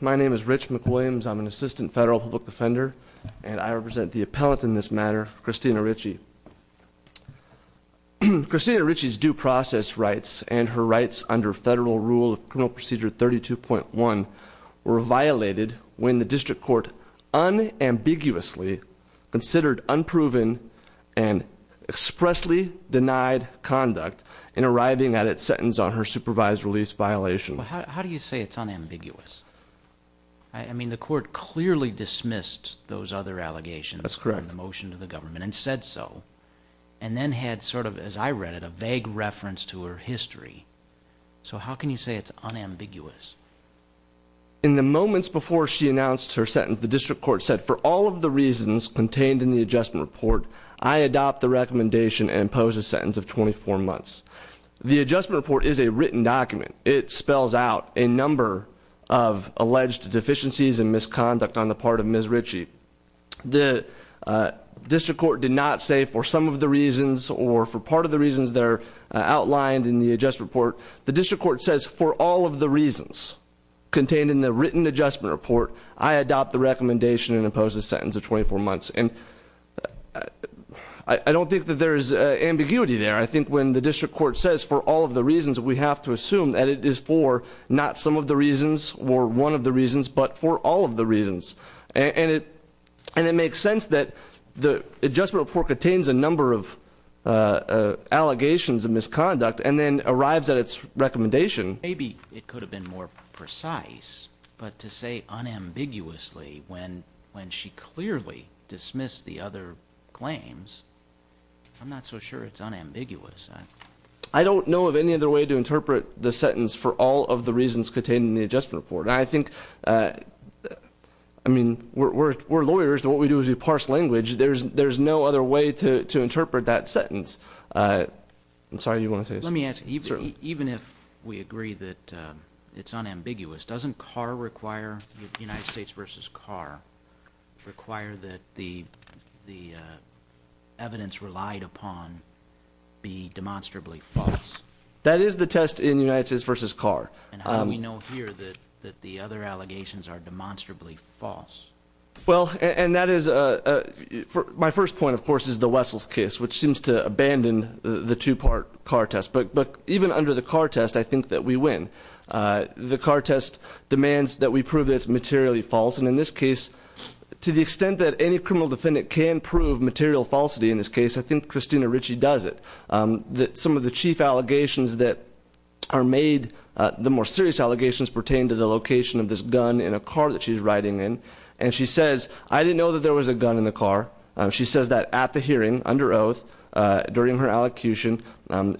My name is Rich McWilliams, I'm an Assistant Federal Public Defender, and I represent the appellate in this matter, Christina Richey. Christina Richey's due process rights and her rights under Federal Rule of Criminal Procedure 32.1 were violated when the district court unambiguously considered unproven and expressly denied conduct in arriving at its sentence on her supervised release violation. Well, how do you say it's unambiguous? I mean, the court clearly dismissed those other allegations- That's correct. In the motion to the government and said so. And then had sort of, as I read it, a vague reference to her history. So how can you say it's unambiguous? In the moments before she announced her sentence, the district court said, for all of the reasons contained in the adjustment report, I adopt the recommendation and impose a sentence of 24 months. The adjustment report is a written document. It spells out a number of alleged deficiencies and misconduct on the part of Ms. Richey. The district court did not say for some of the reasons or for part of the reasons that are outlined in the adjustment report. The district court says, for all of the reasons contained in the written adjustment report, I adopt the recommendation and impose a sentence of 24 months. And I don't think that there is ambiguity there. I think when the district court says, for all of the reasons, we have to assume that it is for not some of the reasons or one of the reasons, but for all of the reasons. And it makes sense that the adjustment report contains a number of allegations of misconduct and then arrives at its recommendation. Maybe it could have been more precise, but to say unambiguously, when she clearly dismissed the other claims, I'm not so sure it's unambiguous. I don't know of any other way to interpret the sentence for all of the reasons contained in the adjustment report. I think, I mean, we're lawyers, and what we do is we parse language. There's no other way to interpret that sentence. I'm sorry, you want to say something? Let me ask you, even if we agree that it's unambiguous, doesn't CAR require, United States versus CAR, require that the evidence relied upon be demonstrably false? That is the test in United States versus CAR. And how do we know here that the other allegations are demonstrably false? Well, and that is, my first point, of course, is the Wessels case, which seems to abandon the two-part CAR test. But even under the CAR test, I think that we win. The CAR test demands that we prove that it's materially false. And in this case, to the extent that any criminal defendant can prove material falsity in this case, I think Christina Ritchie does it. That some of the chief allegations that are made, the more serious allegations, pertain to the location of this gun in a car that she's riding in, and she says, I didn't know that there was a gun in the car. She says that at the hearing, under oath, during her allocution,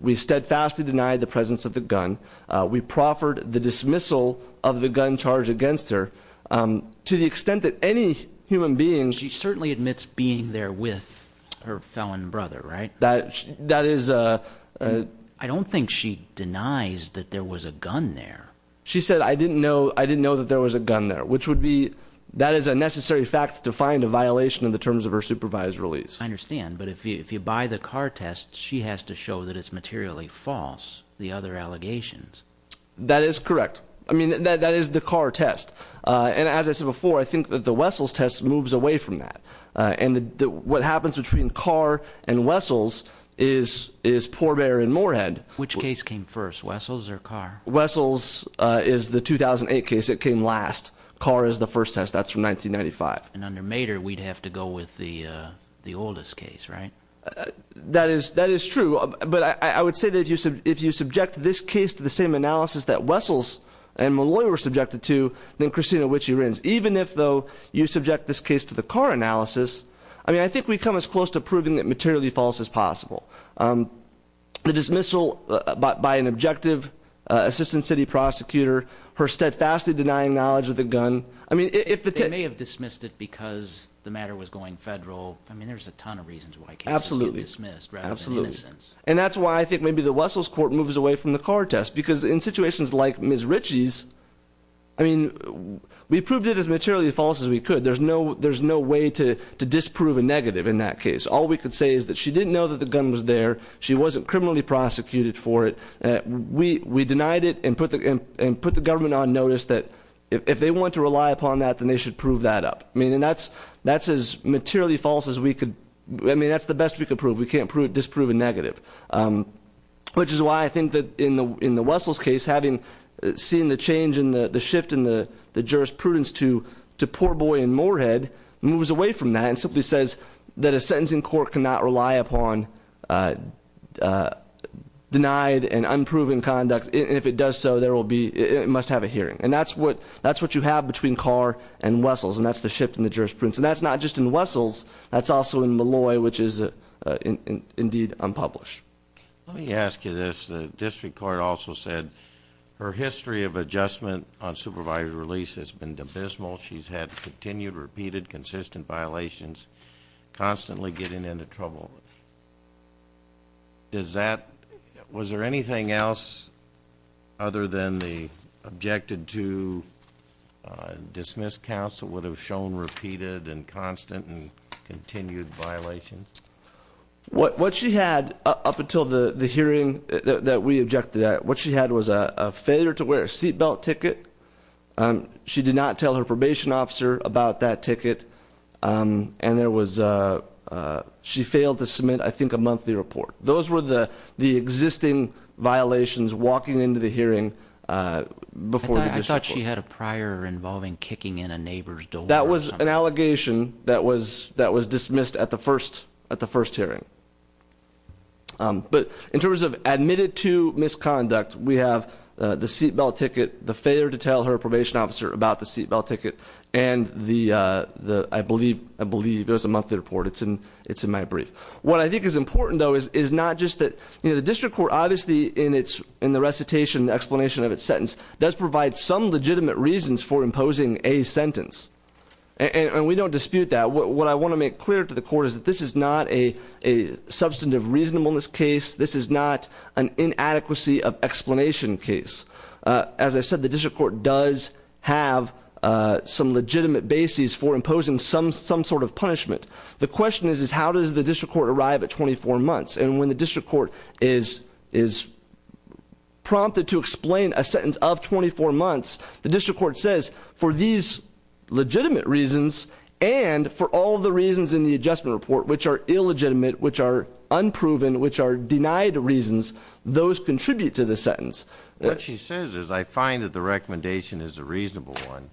we steadfastly denied the presence of the gun. We proffered the dismissal of the gun charge against her. To the extent that any human being- She certainly admits being there with her felon brother, right? That is- I don't think she denies that there was a gun there. She said, I didn't know that there was a gun there, which would be, that is a necessary fact to find a violation of the terms of her supervised release. I understand, but if you buy the CAR test, she has to show that it's materially false. The other allegations. That is correct. I mean, that is the CAR test. And as I said before, I think that the Wessels test moves away from that. And what happens between CAR and Wessels is Poor Bear and Moorhead. Which case came first, Wessels or CAR? Wessels is the 2008 case, it came last. CAR is the first test, that's from 1995. And under Mater, we'd have to go with the oldest case, right? That is true, but I would say that if you subject this case to the same analysis that Wessels and Malloy were subjected to, then Christina Wichy-Renz. Even if, though, you subject this case to the CAR analysis, I mean, I think we've come as close to proving it materially false as possible. The dismissal by an objective assistant city prosecutor, her steadfastly denying knowledge of the gun. I mean, if the- They may have dismissed it because the matter was going federal. I mean, there's a ton of reasons why cases get dismissed rather than innocence. And that's why I think maybe the Wessels court moves away from the CAR test. Because in situations like Ms. Richie's, I mean, we proved it as materially false as we could. There's no way to disprove a negative in that case. All we could say is that she didn't know that the gun was there. She wasn't criminally prosecuted for it. We denied it and put the government on notice that if they want to rely upon that, then they should prove that up, meaning that's as materially false as we could, I mean, that's the best we could prove. We can't disprove a negative, which is why I think that in the Wessels case, having seen the change and the shift in the jurisprudence to poor boy in Moorhead, moves away from that and simply says that a sentencing court cannot rely upon denied and unproven conduct, and if it does so, it must have a hearing. And that's what you have between CAR and Wessels, and that's the shift in the jurisprudence. And that's not just in Wessels, that's also in Malloy, which is indeed unpublished. Let me ask you this. The district court also said her history of adjustment on supervised release has been abysmal. She's had continued, repeated, consistent violations, constantly getting into trouble. Was there anything else other than the objected to dismiss counsel would have shown repeated and constant and continued violations? What she had up until the hearing that we objected to that, what she had was a failure to wear a seat belt ticket. She did not tell her probation officer about that ticket, and then there was, she failed to submit, I think, a monthly report. Those were the existing violations walking into the hearing before the district court. I thought she had a prior involving kicking in a neighbor's door or something. That was an allegation that was dismissed at the first hearing. But in terms of admitted to misconduct, we have the seat belt ticket, the failure to tell her probation officer about the seat belt ticket, and I believe there's a monthly report. It's in my brief. What I think is important, though, is not just that the district court, obviously, in the recitation, the explanation of its sentence, does provide some legitimate reasons for imposing a sentence. And we don't dispute that. What I want to make clear to the court is that this is not a substantive reasonableness case. This is not an inadequacy of explanation case. As I said, the district court does have some legitimate bases for imposing some sort of punishment. The question is, is how does the district court arrive at 24 months? And when the district court is prompted to explain a sentence of 24 months, the district court says, for these legitimate reasons and for all the reasons in the adjustment report, which are illegitimate, which are unproven, which are denied reasons, those contribute to the sentence. What she says is, I find that the recommendation is a reasonable one,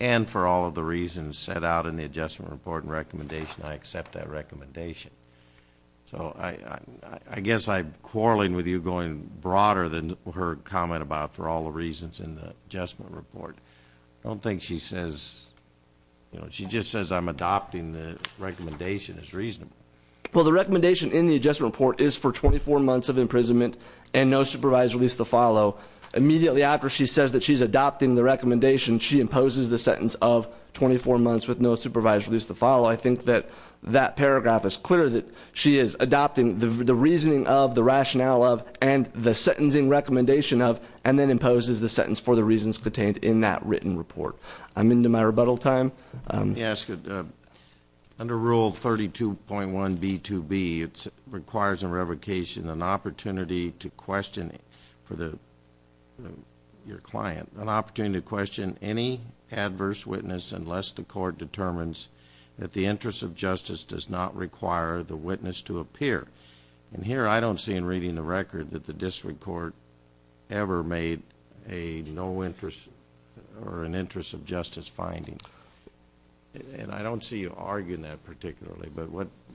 and for all of the reasons set out in the adjustment report and recommendation, I accept that recommendation. So I guess I'm quarreling with you going broader than her comment about for all the reasons in the adjustment report. I don't think she says, she just says I'm adopting the recommendation as reasonable. Well, the recommendation in the adjustment report is for 24 months of imprisonment and no supervised release to follow. Immediately after she says that she's adopting the recommendation, she imposes the sentence of 24 months with no supervised release to follow. I think that that paragraph is clear that she is adopting the reasoning of, the rationale of, and the sentencing recommendation of, and then imposes the sentence for the reasons contained in that written report. I'm into my rebuttal time. Let me ask you, under rule 32.1B2B, it requires a revocation, an opportunity to question for your client, an opportunity to question any adverse witness unless the court determines that the interest of justice does not require the witness to appear. And here, I don't see in reading the record that the district court ever made a no interest or an interest of justice finding, and I don't see you arguing that particularly, but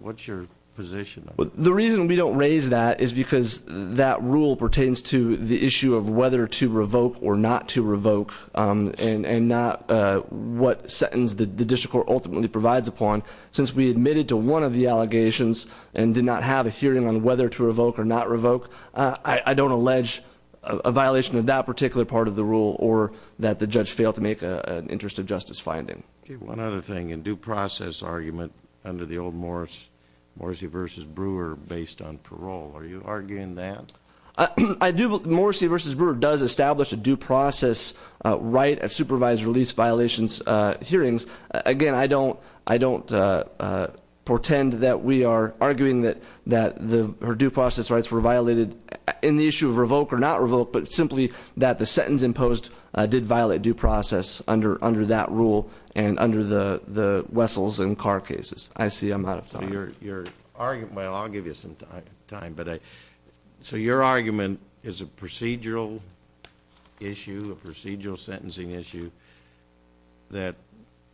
what's your position? The reason we don't raise that is because that rule pertains to the issue of whether to revoke or not to revoke, and not what sentence the district court ultimately provides upon. Since we admitted to one of the allegations and did not have a hearing on whether to revoke or not revoke, I don't allege a violation of that particular part of the rule or that the judge failed to make an interest of justice finding. Okay, one other thing, a due process argument under the old Morris, Morrissey versus Brewer based on parole. Are you arguing that? I do, Morrissey versus Brewer does establish a due process right at supervised release violations hearings. Again, I don't pretend that we are arguing that her due process rights were violated in the issue of revoke or not revoke. But simply that the sentence imposed did violate due process under that rule and under the Wessels and Carr cases. I see I'm out of time. Your argument, well I'll give you some time. So your argument is a procedural issue, a procedural sentencing issue that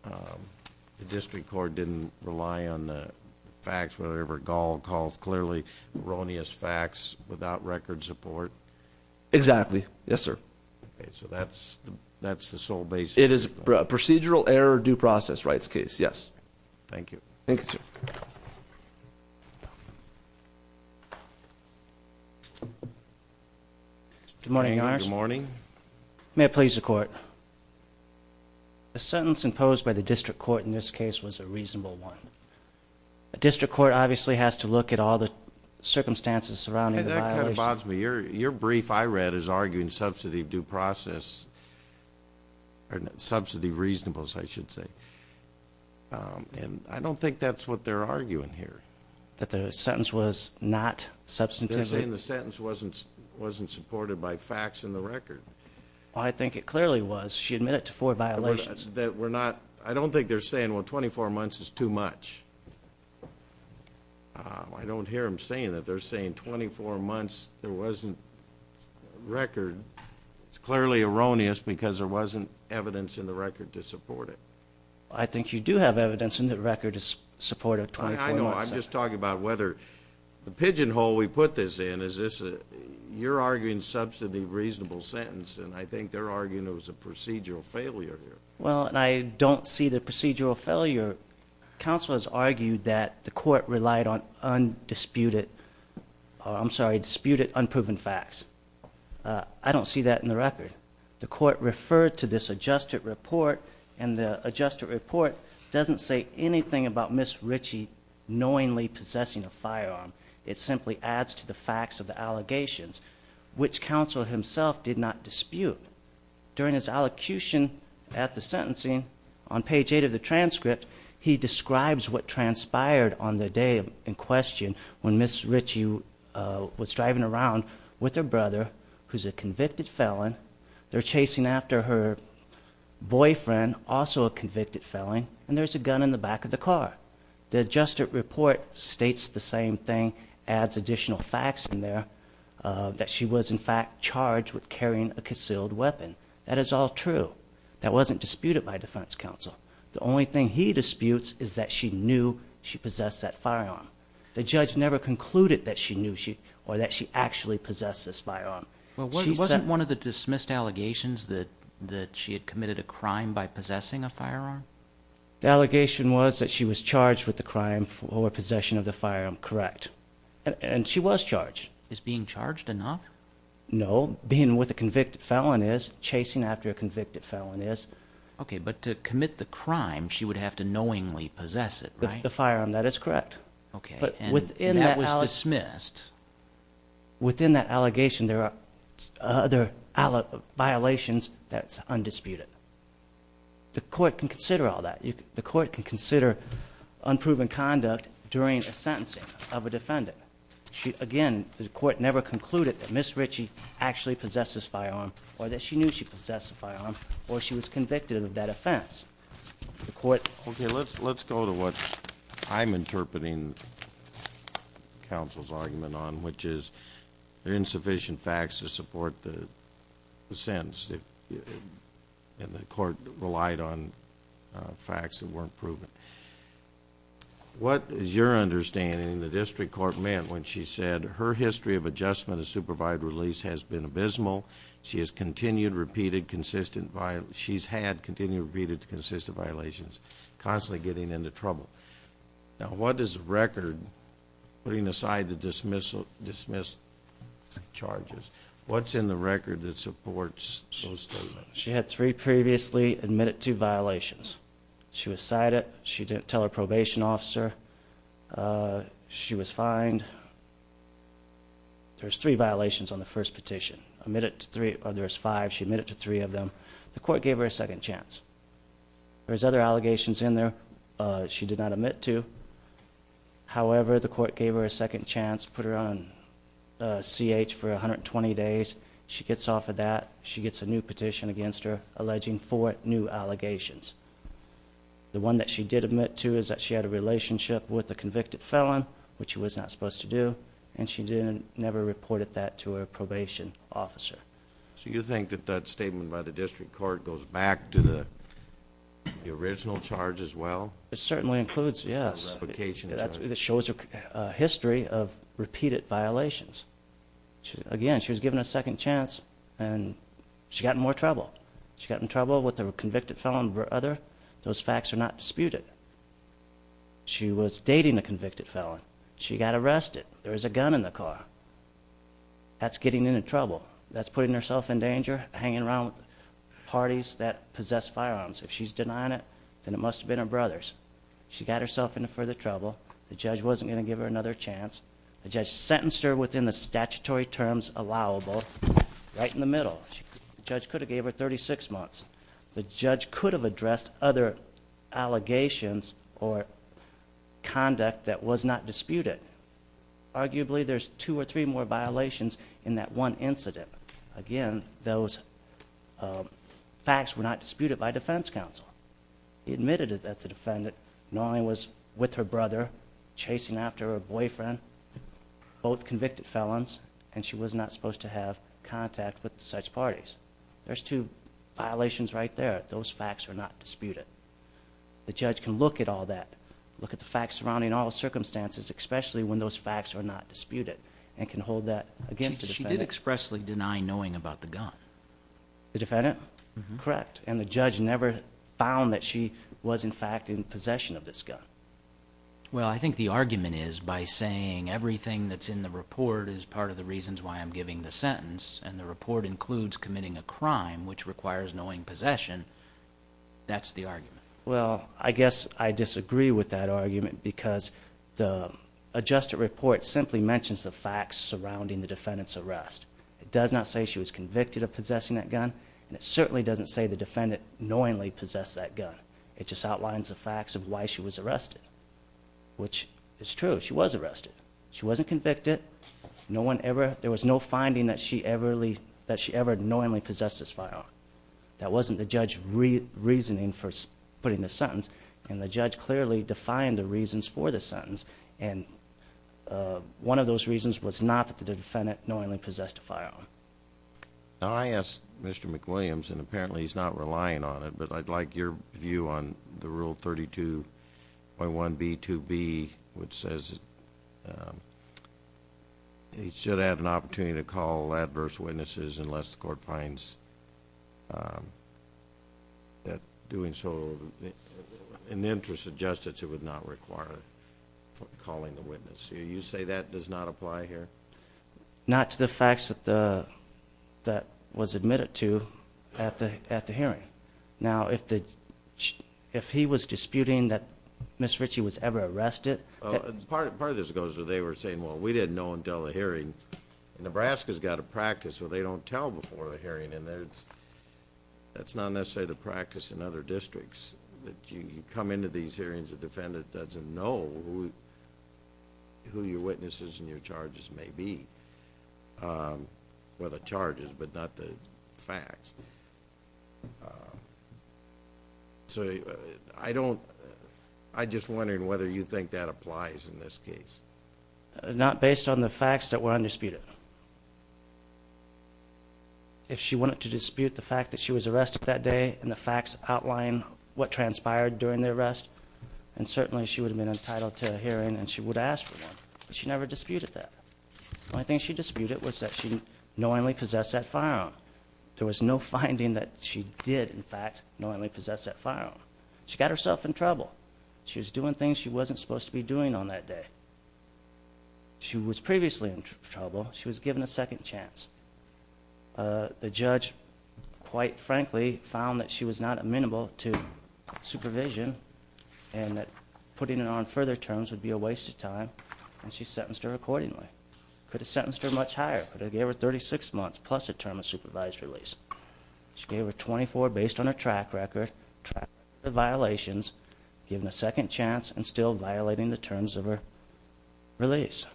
the district court didn't rely on the facts, whatever Gall calls clearly erroneous facts without record support. Exactly, yes sir. So that's the sole basis. It is a procedural error due process rights case, yes. Thank you. Thank you, sir. Good morning, Your Honor. Good morning. May it please the court, a sentence imposed by the district court in this case was a reasonable one. A district court obviously has to look at all the circumstances surrounding the violation. That kind of bothers me. Your brief I read is arguing subsidy of due process, or subsidy of reasonableness, I should say. And I don't think that's what they're arguing here. That the sentence was not substantive. They're saying the sentence wasn't supported by facts in the record. I think it clearly was. She admitted to four violations. That we're not, I don't think they're saying, well 24 months is too much. I don't hear them saying that. They're saying 24 months there wasn't record. It's clearly erroneous because there wasn't evidence in the record to support it. So I'm just talking about whether the pigeon hole we put this in, is this a, you're arguing substantive reasonable sentence, and I think they're arguing it was a procedural failure here. Well, and I don't see the procedural failure. Counsel has argued that the court relied on undisputed, I'm sorry, disputed unproven facts. I don't see that in the record. The court referred to this adjusted report, and the adjusted report doesn't say anything about Ms. Ritchie knowingly possessing a firearm. It simply adds to the facts of the allegations, which counsel himself did not dispute. During his allocution at the sentencing, on page eight of the transcript, he describes what transpired on the day in question when Ms. Ritchie was driving around with her brother, who's a convicted felon. They're chasing after her boyfriend, also a convicted felon, and there's a gun in the back of the car. The adjusted report states the same thing, adds additional facts in there, that she was in fact charged with carrying a concealed weapon. That is all true. That wasn't disputed by defense counsel. The only thing he disputes is that she knew she possessed that firearm. The judge never concluded that she knew, or that she actually possessed this firearm. Well, wasn't one of the dismissed allegations that she had committed a crime by possessing a firearm? The allegation was that she was charged with the crime or possession of the firearm, correct. And she was charged. Is being charged enough? No, being with a convicted felon is, chasing after a convicted felon is. Okay, but to commit the crime, she would have to knowingly possess it, right? The firearm, that is correct. Okay, and that was dismissed. Within that allegation, there are other violations that's undisputed. The court can consider all that. The court can consider unproven conduct during a sentencing of a defendant. Again, the court never concluded that Ms. Ritchie actually possessed this firearm, or that she knew she possessed the firearm, or she was convicted of that offense. The court- Okay, let's go to what I'm interpreting counsel's argument on, which is there are insufficient facts to support the sentence. And the court relied on facts that weren't proven. What is your understanding the district court meant when she said her history of adjustment of supervised release has been abysmal. She has continued, repeated, consistent, she's had continued, repeated, consistent violations, constantly getting into trouble. Now what does record, putting aside the dismissal, dismiss charges, what's in the record that supports those statements? She had three previously admitted to violations. She was cited, she didn't tell her probation officer, she was fined. And there's three violations on the first petition. Admit it to three, or there's five, she admitted to three of them. The court gave her a second chance. There's other allegations in there she did not admit to. However, the court gave her a second chance, put her on CH for 120 days. She gets off of that, she gets a new petition against her, alleging four new allegations. The one that she did admit to is that she had a relationship with a convicted felon, which she was not supposed to do. And she never reported that to her probation officer. So you think that that statement by the district court goes back to the original charge as well? It certainly includes, yes. A replication charge. It shows a history of repeated violations. Again, she was given a second chance, and she got in more trouble. She got in trouble with a convicted felon, her brother. Those facts are not disputed. She was dating a convicted felon. She got arrested. There was a gun in the car. That's getting into trouble. That's putting herself in danger, hanging around with parties that possess firearms. If she's denying it, then it must have been her brother's. She got herself into further trouble. The judge wasn't going to give her another chance. The judge sentenced her within the statutory terms allowable, right in the middle. The judge could have gave her 36 months. The judge could have addressed other allegations or conduct that was not disputed. Arguably, there's two or three more violations in that one incident. Again, those facts were not disputed by defense counsel. He admitted that the defendant not only was with her brother, chasing after her boyfriend, both convicted felons, and she was not supposed to have contact with such parties. There's two violations right there. Those facts are not disputed. The judge can look at all that, look at the facts surrounding all circumstances, especially when those facts are not disputed, and can hold that against the defendant. She did expressly deny knowing about the gun. The defendant? Correct. And the judge never found that she was, in fact, in possession of this gun. Well, I think the argument is by saying everything that's in the report is part of the reasons why I'm giving the sentence, and the report includes committing a crime which requires knowing possession, that's the argument. Well, I guess I disagree with that argument because the adjusted report simply mentions the facts surrounding the defendant's arrest. It does not say she was convicted of possessing that gun, and it certainly doesn't say the defendant knowingly possessed that gun. It just outlines the facts of why she was arrested, which is true, she was arrested. She wasn't convicted, there was no finding that she ever knowingly possessed this firearm. That wasn't the judge's reasoning for putting this sentence, and the judge clearly defined the reasons for this sentence. And one of those reasons was not that the defendant knowingly possessed a firearm. Now, I asked Mr. McWilliams, and apparently he's not relying on it, but I'd like your view on the rule 32.1B2B, which says, he should have an opportunity to call adverse witnesses unless the court finds that doing so in the interest of justice, it would not require calling the witness. You say that does not apply here? Not to the facts that was admitted to at the hearing. Now, if he was disputing that Ms. Ritchie was ever arrested- Part of this goes to they were saying, well, we didn't know until the hearing. Nebraska's got a practice where they don't tell before a hearing, and that's not necessarily the practice in other districts. You come into these hearings, the defendant doesn't know who your witnesses and your charges may be, or the charges, but not the facts. So I don't, I'm just wondering whether you think that applies in this case. Not based on the facts that were undisputed. If she wanted to dispute the fact that she was arrested that day and the facts outline what transpired during the arrest, and certainly she would have been entitled to a hearing and she would have asked for one, but she never disputed that. The only thing she disputed was that she knowingly possessed that firearm. There was no finding that she did, in fact, knowingly possess that firearm. She got herself in trouble. She was doing things she wasn't supposed to be doing on that day. She was previously in trouble. She was given a second chance. The judge, quite frankly, found that she was not amenable to supervision, and that putting her on further terms would be a waste of time, and she sentenced her accordingly. Could have sentenced her much higher, could have gave her 36 months plus a term of supervised release. She gave her 24 based on her track record, track violations, given a second chance, and still violating the terms of her release.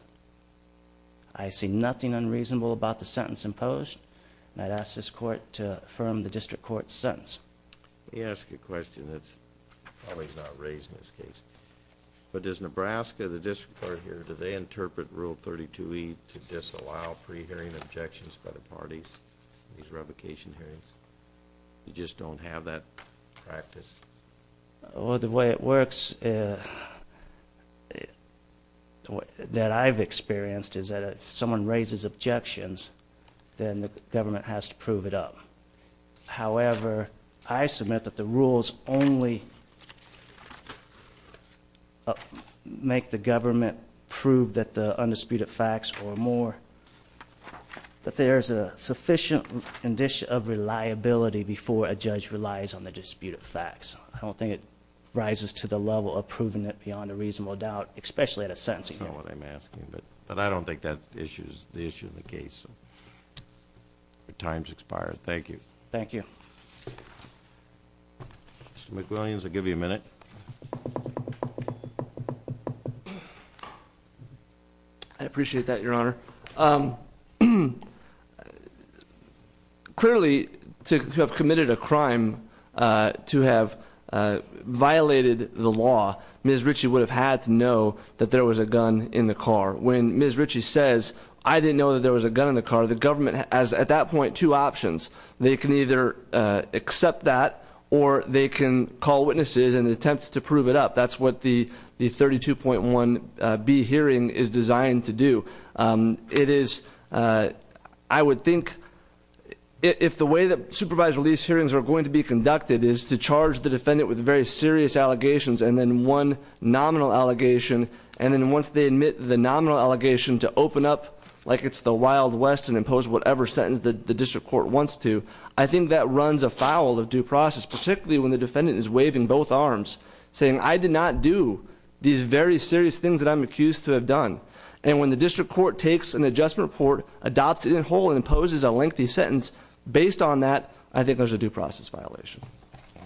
I see nothing unreasonable about the sentence imposed, and I'd ask this court to affirm the district court's sentence. Let me ask you a question that's probably not raised in this case. But does Nebraska, the district court here, do they interpret Rule 32E to disallow pre-hearing objections by the parties? These revocation hearings, you just don't have that practice? Well, the way it works, that I've experienced is that if someone raises objections, then the government has to prove it up. However, I submit that the rules only make the government prove that the undisputed facts or more. But there's a sufficient condition of reliability before a judge relies on the disputed facts. I don't think it rises to the level of proving it beyond a reasonable doubt, especially at a sentencing hearing. That's not what I'm asking, but I don't think that's the issue of the case. The time's expired. Thank you. Thank you. I appreciate that, your honor. Clearly, to have committed a crime, to have violated the law, Ms. Ritchie would have had to know that there was a gun in the car. When Ms. Ritchie says, I didn't know that there was a gun in the car, the government has, at that point, two options. They can either accept that, or they can call witnesses and attempt to prove it up. That's what the 32.1B hearing is designed to do. It is, I would think, if the way that supervised release hearings are going to be conducted, is to charge the defendant with very serious allegations and then one nominal allegation. And then once they admit the nominal allegation, to open up like it's the wild west and impose whatever sentence the district court wants to, I think that runs afoul of due process. Particularly when the defendant is waving both arms, saying I did not do these very serious things that I'm accused to have done. And when the district court takes an adjustment report, adopts it in whole and imposes a lengthy sentence, based on that, I think there's a due process violation.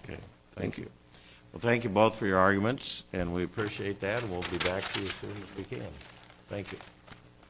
Okay, thank you. Well, thank you both for your arguments, and we appreciate that, and we'll be back to you as soon as we can. Thank you.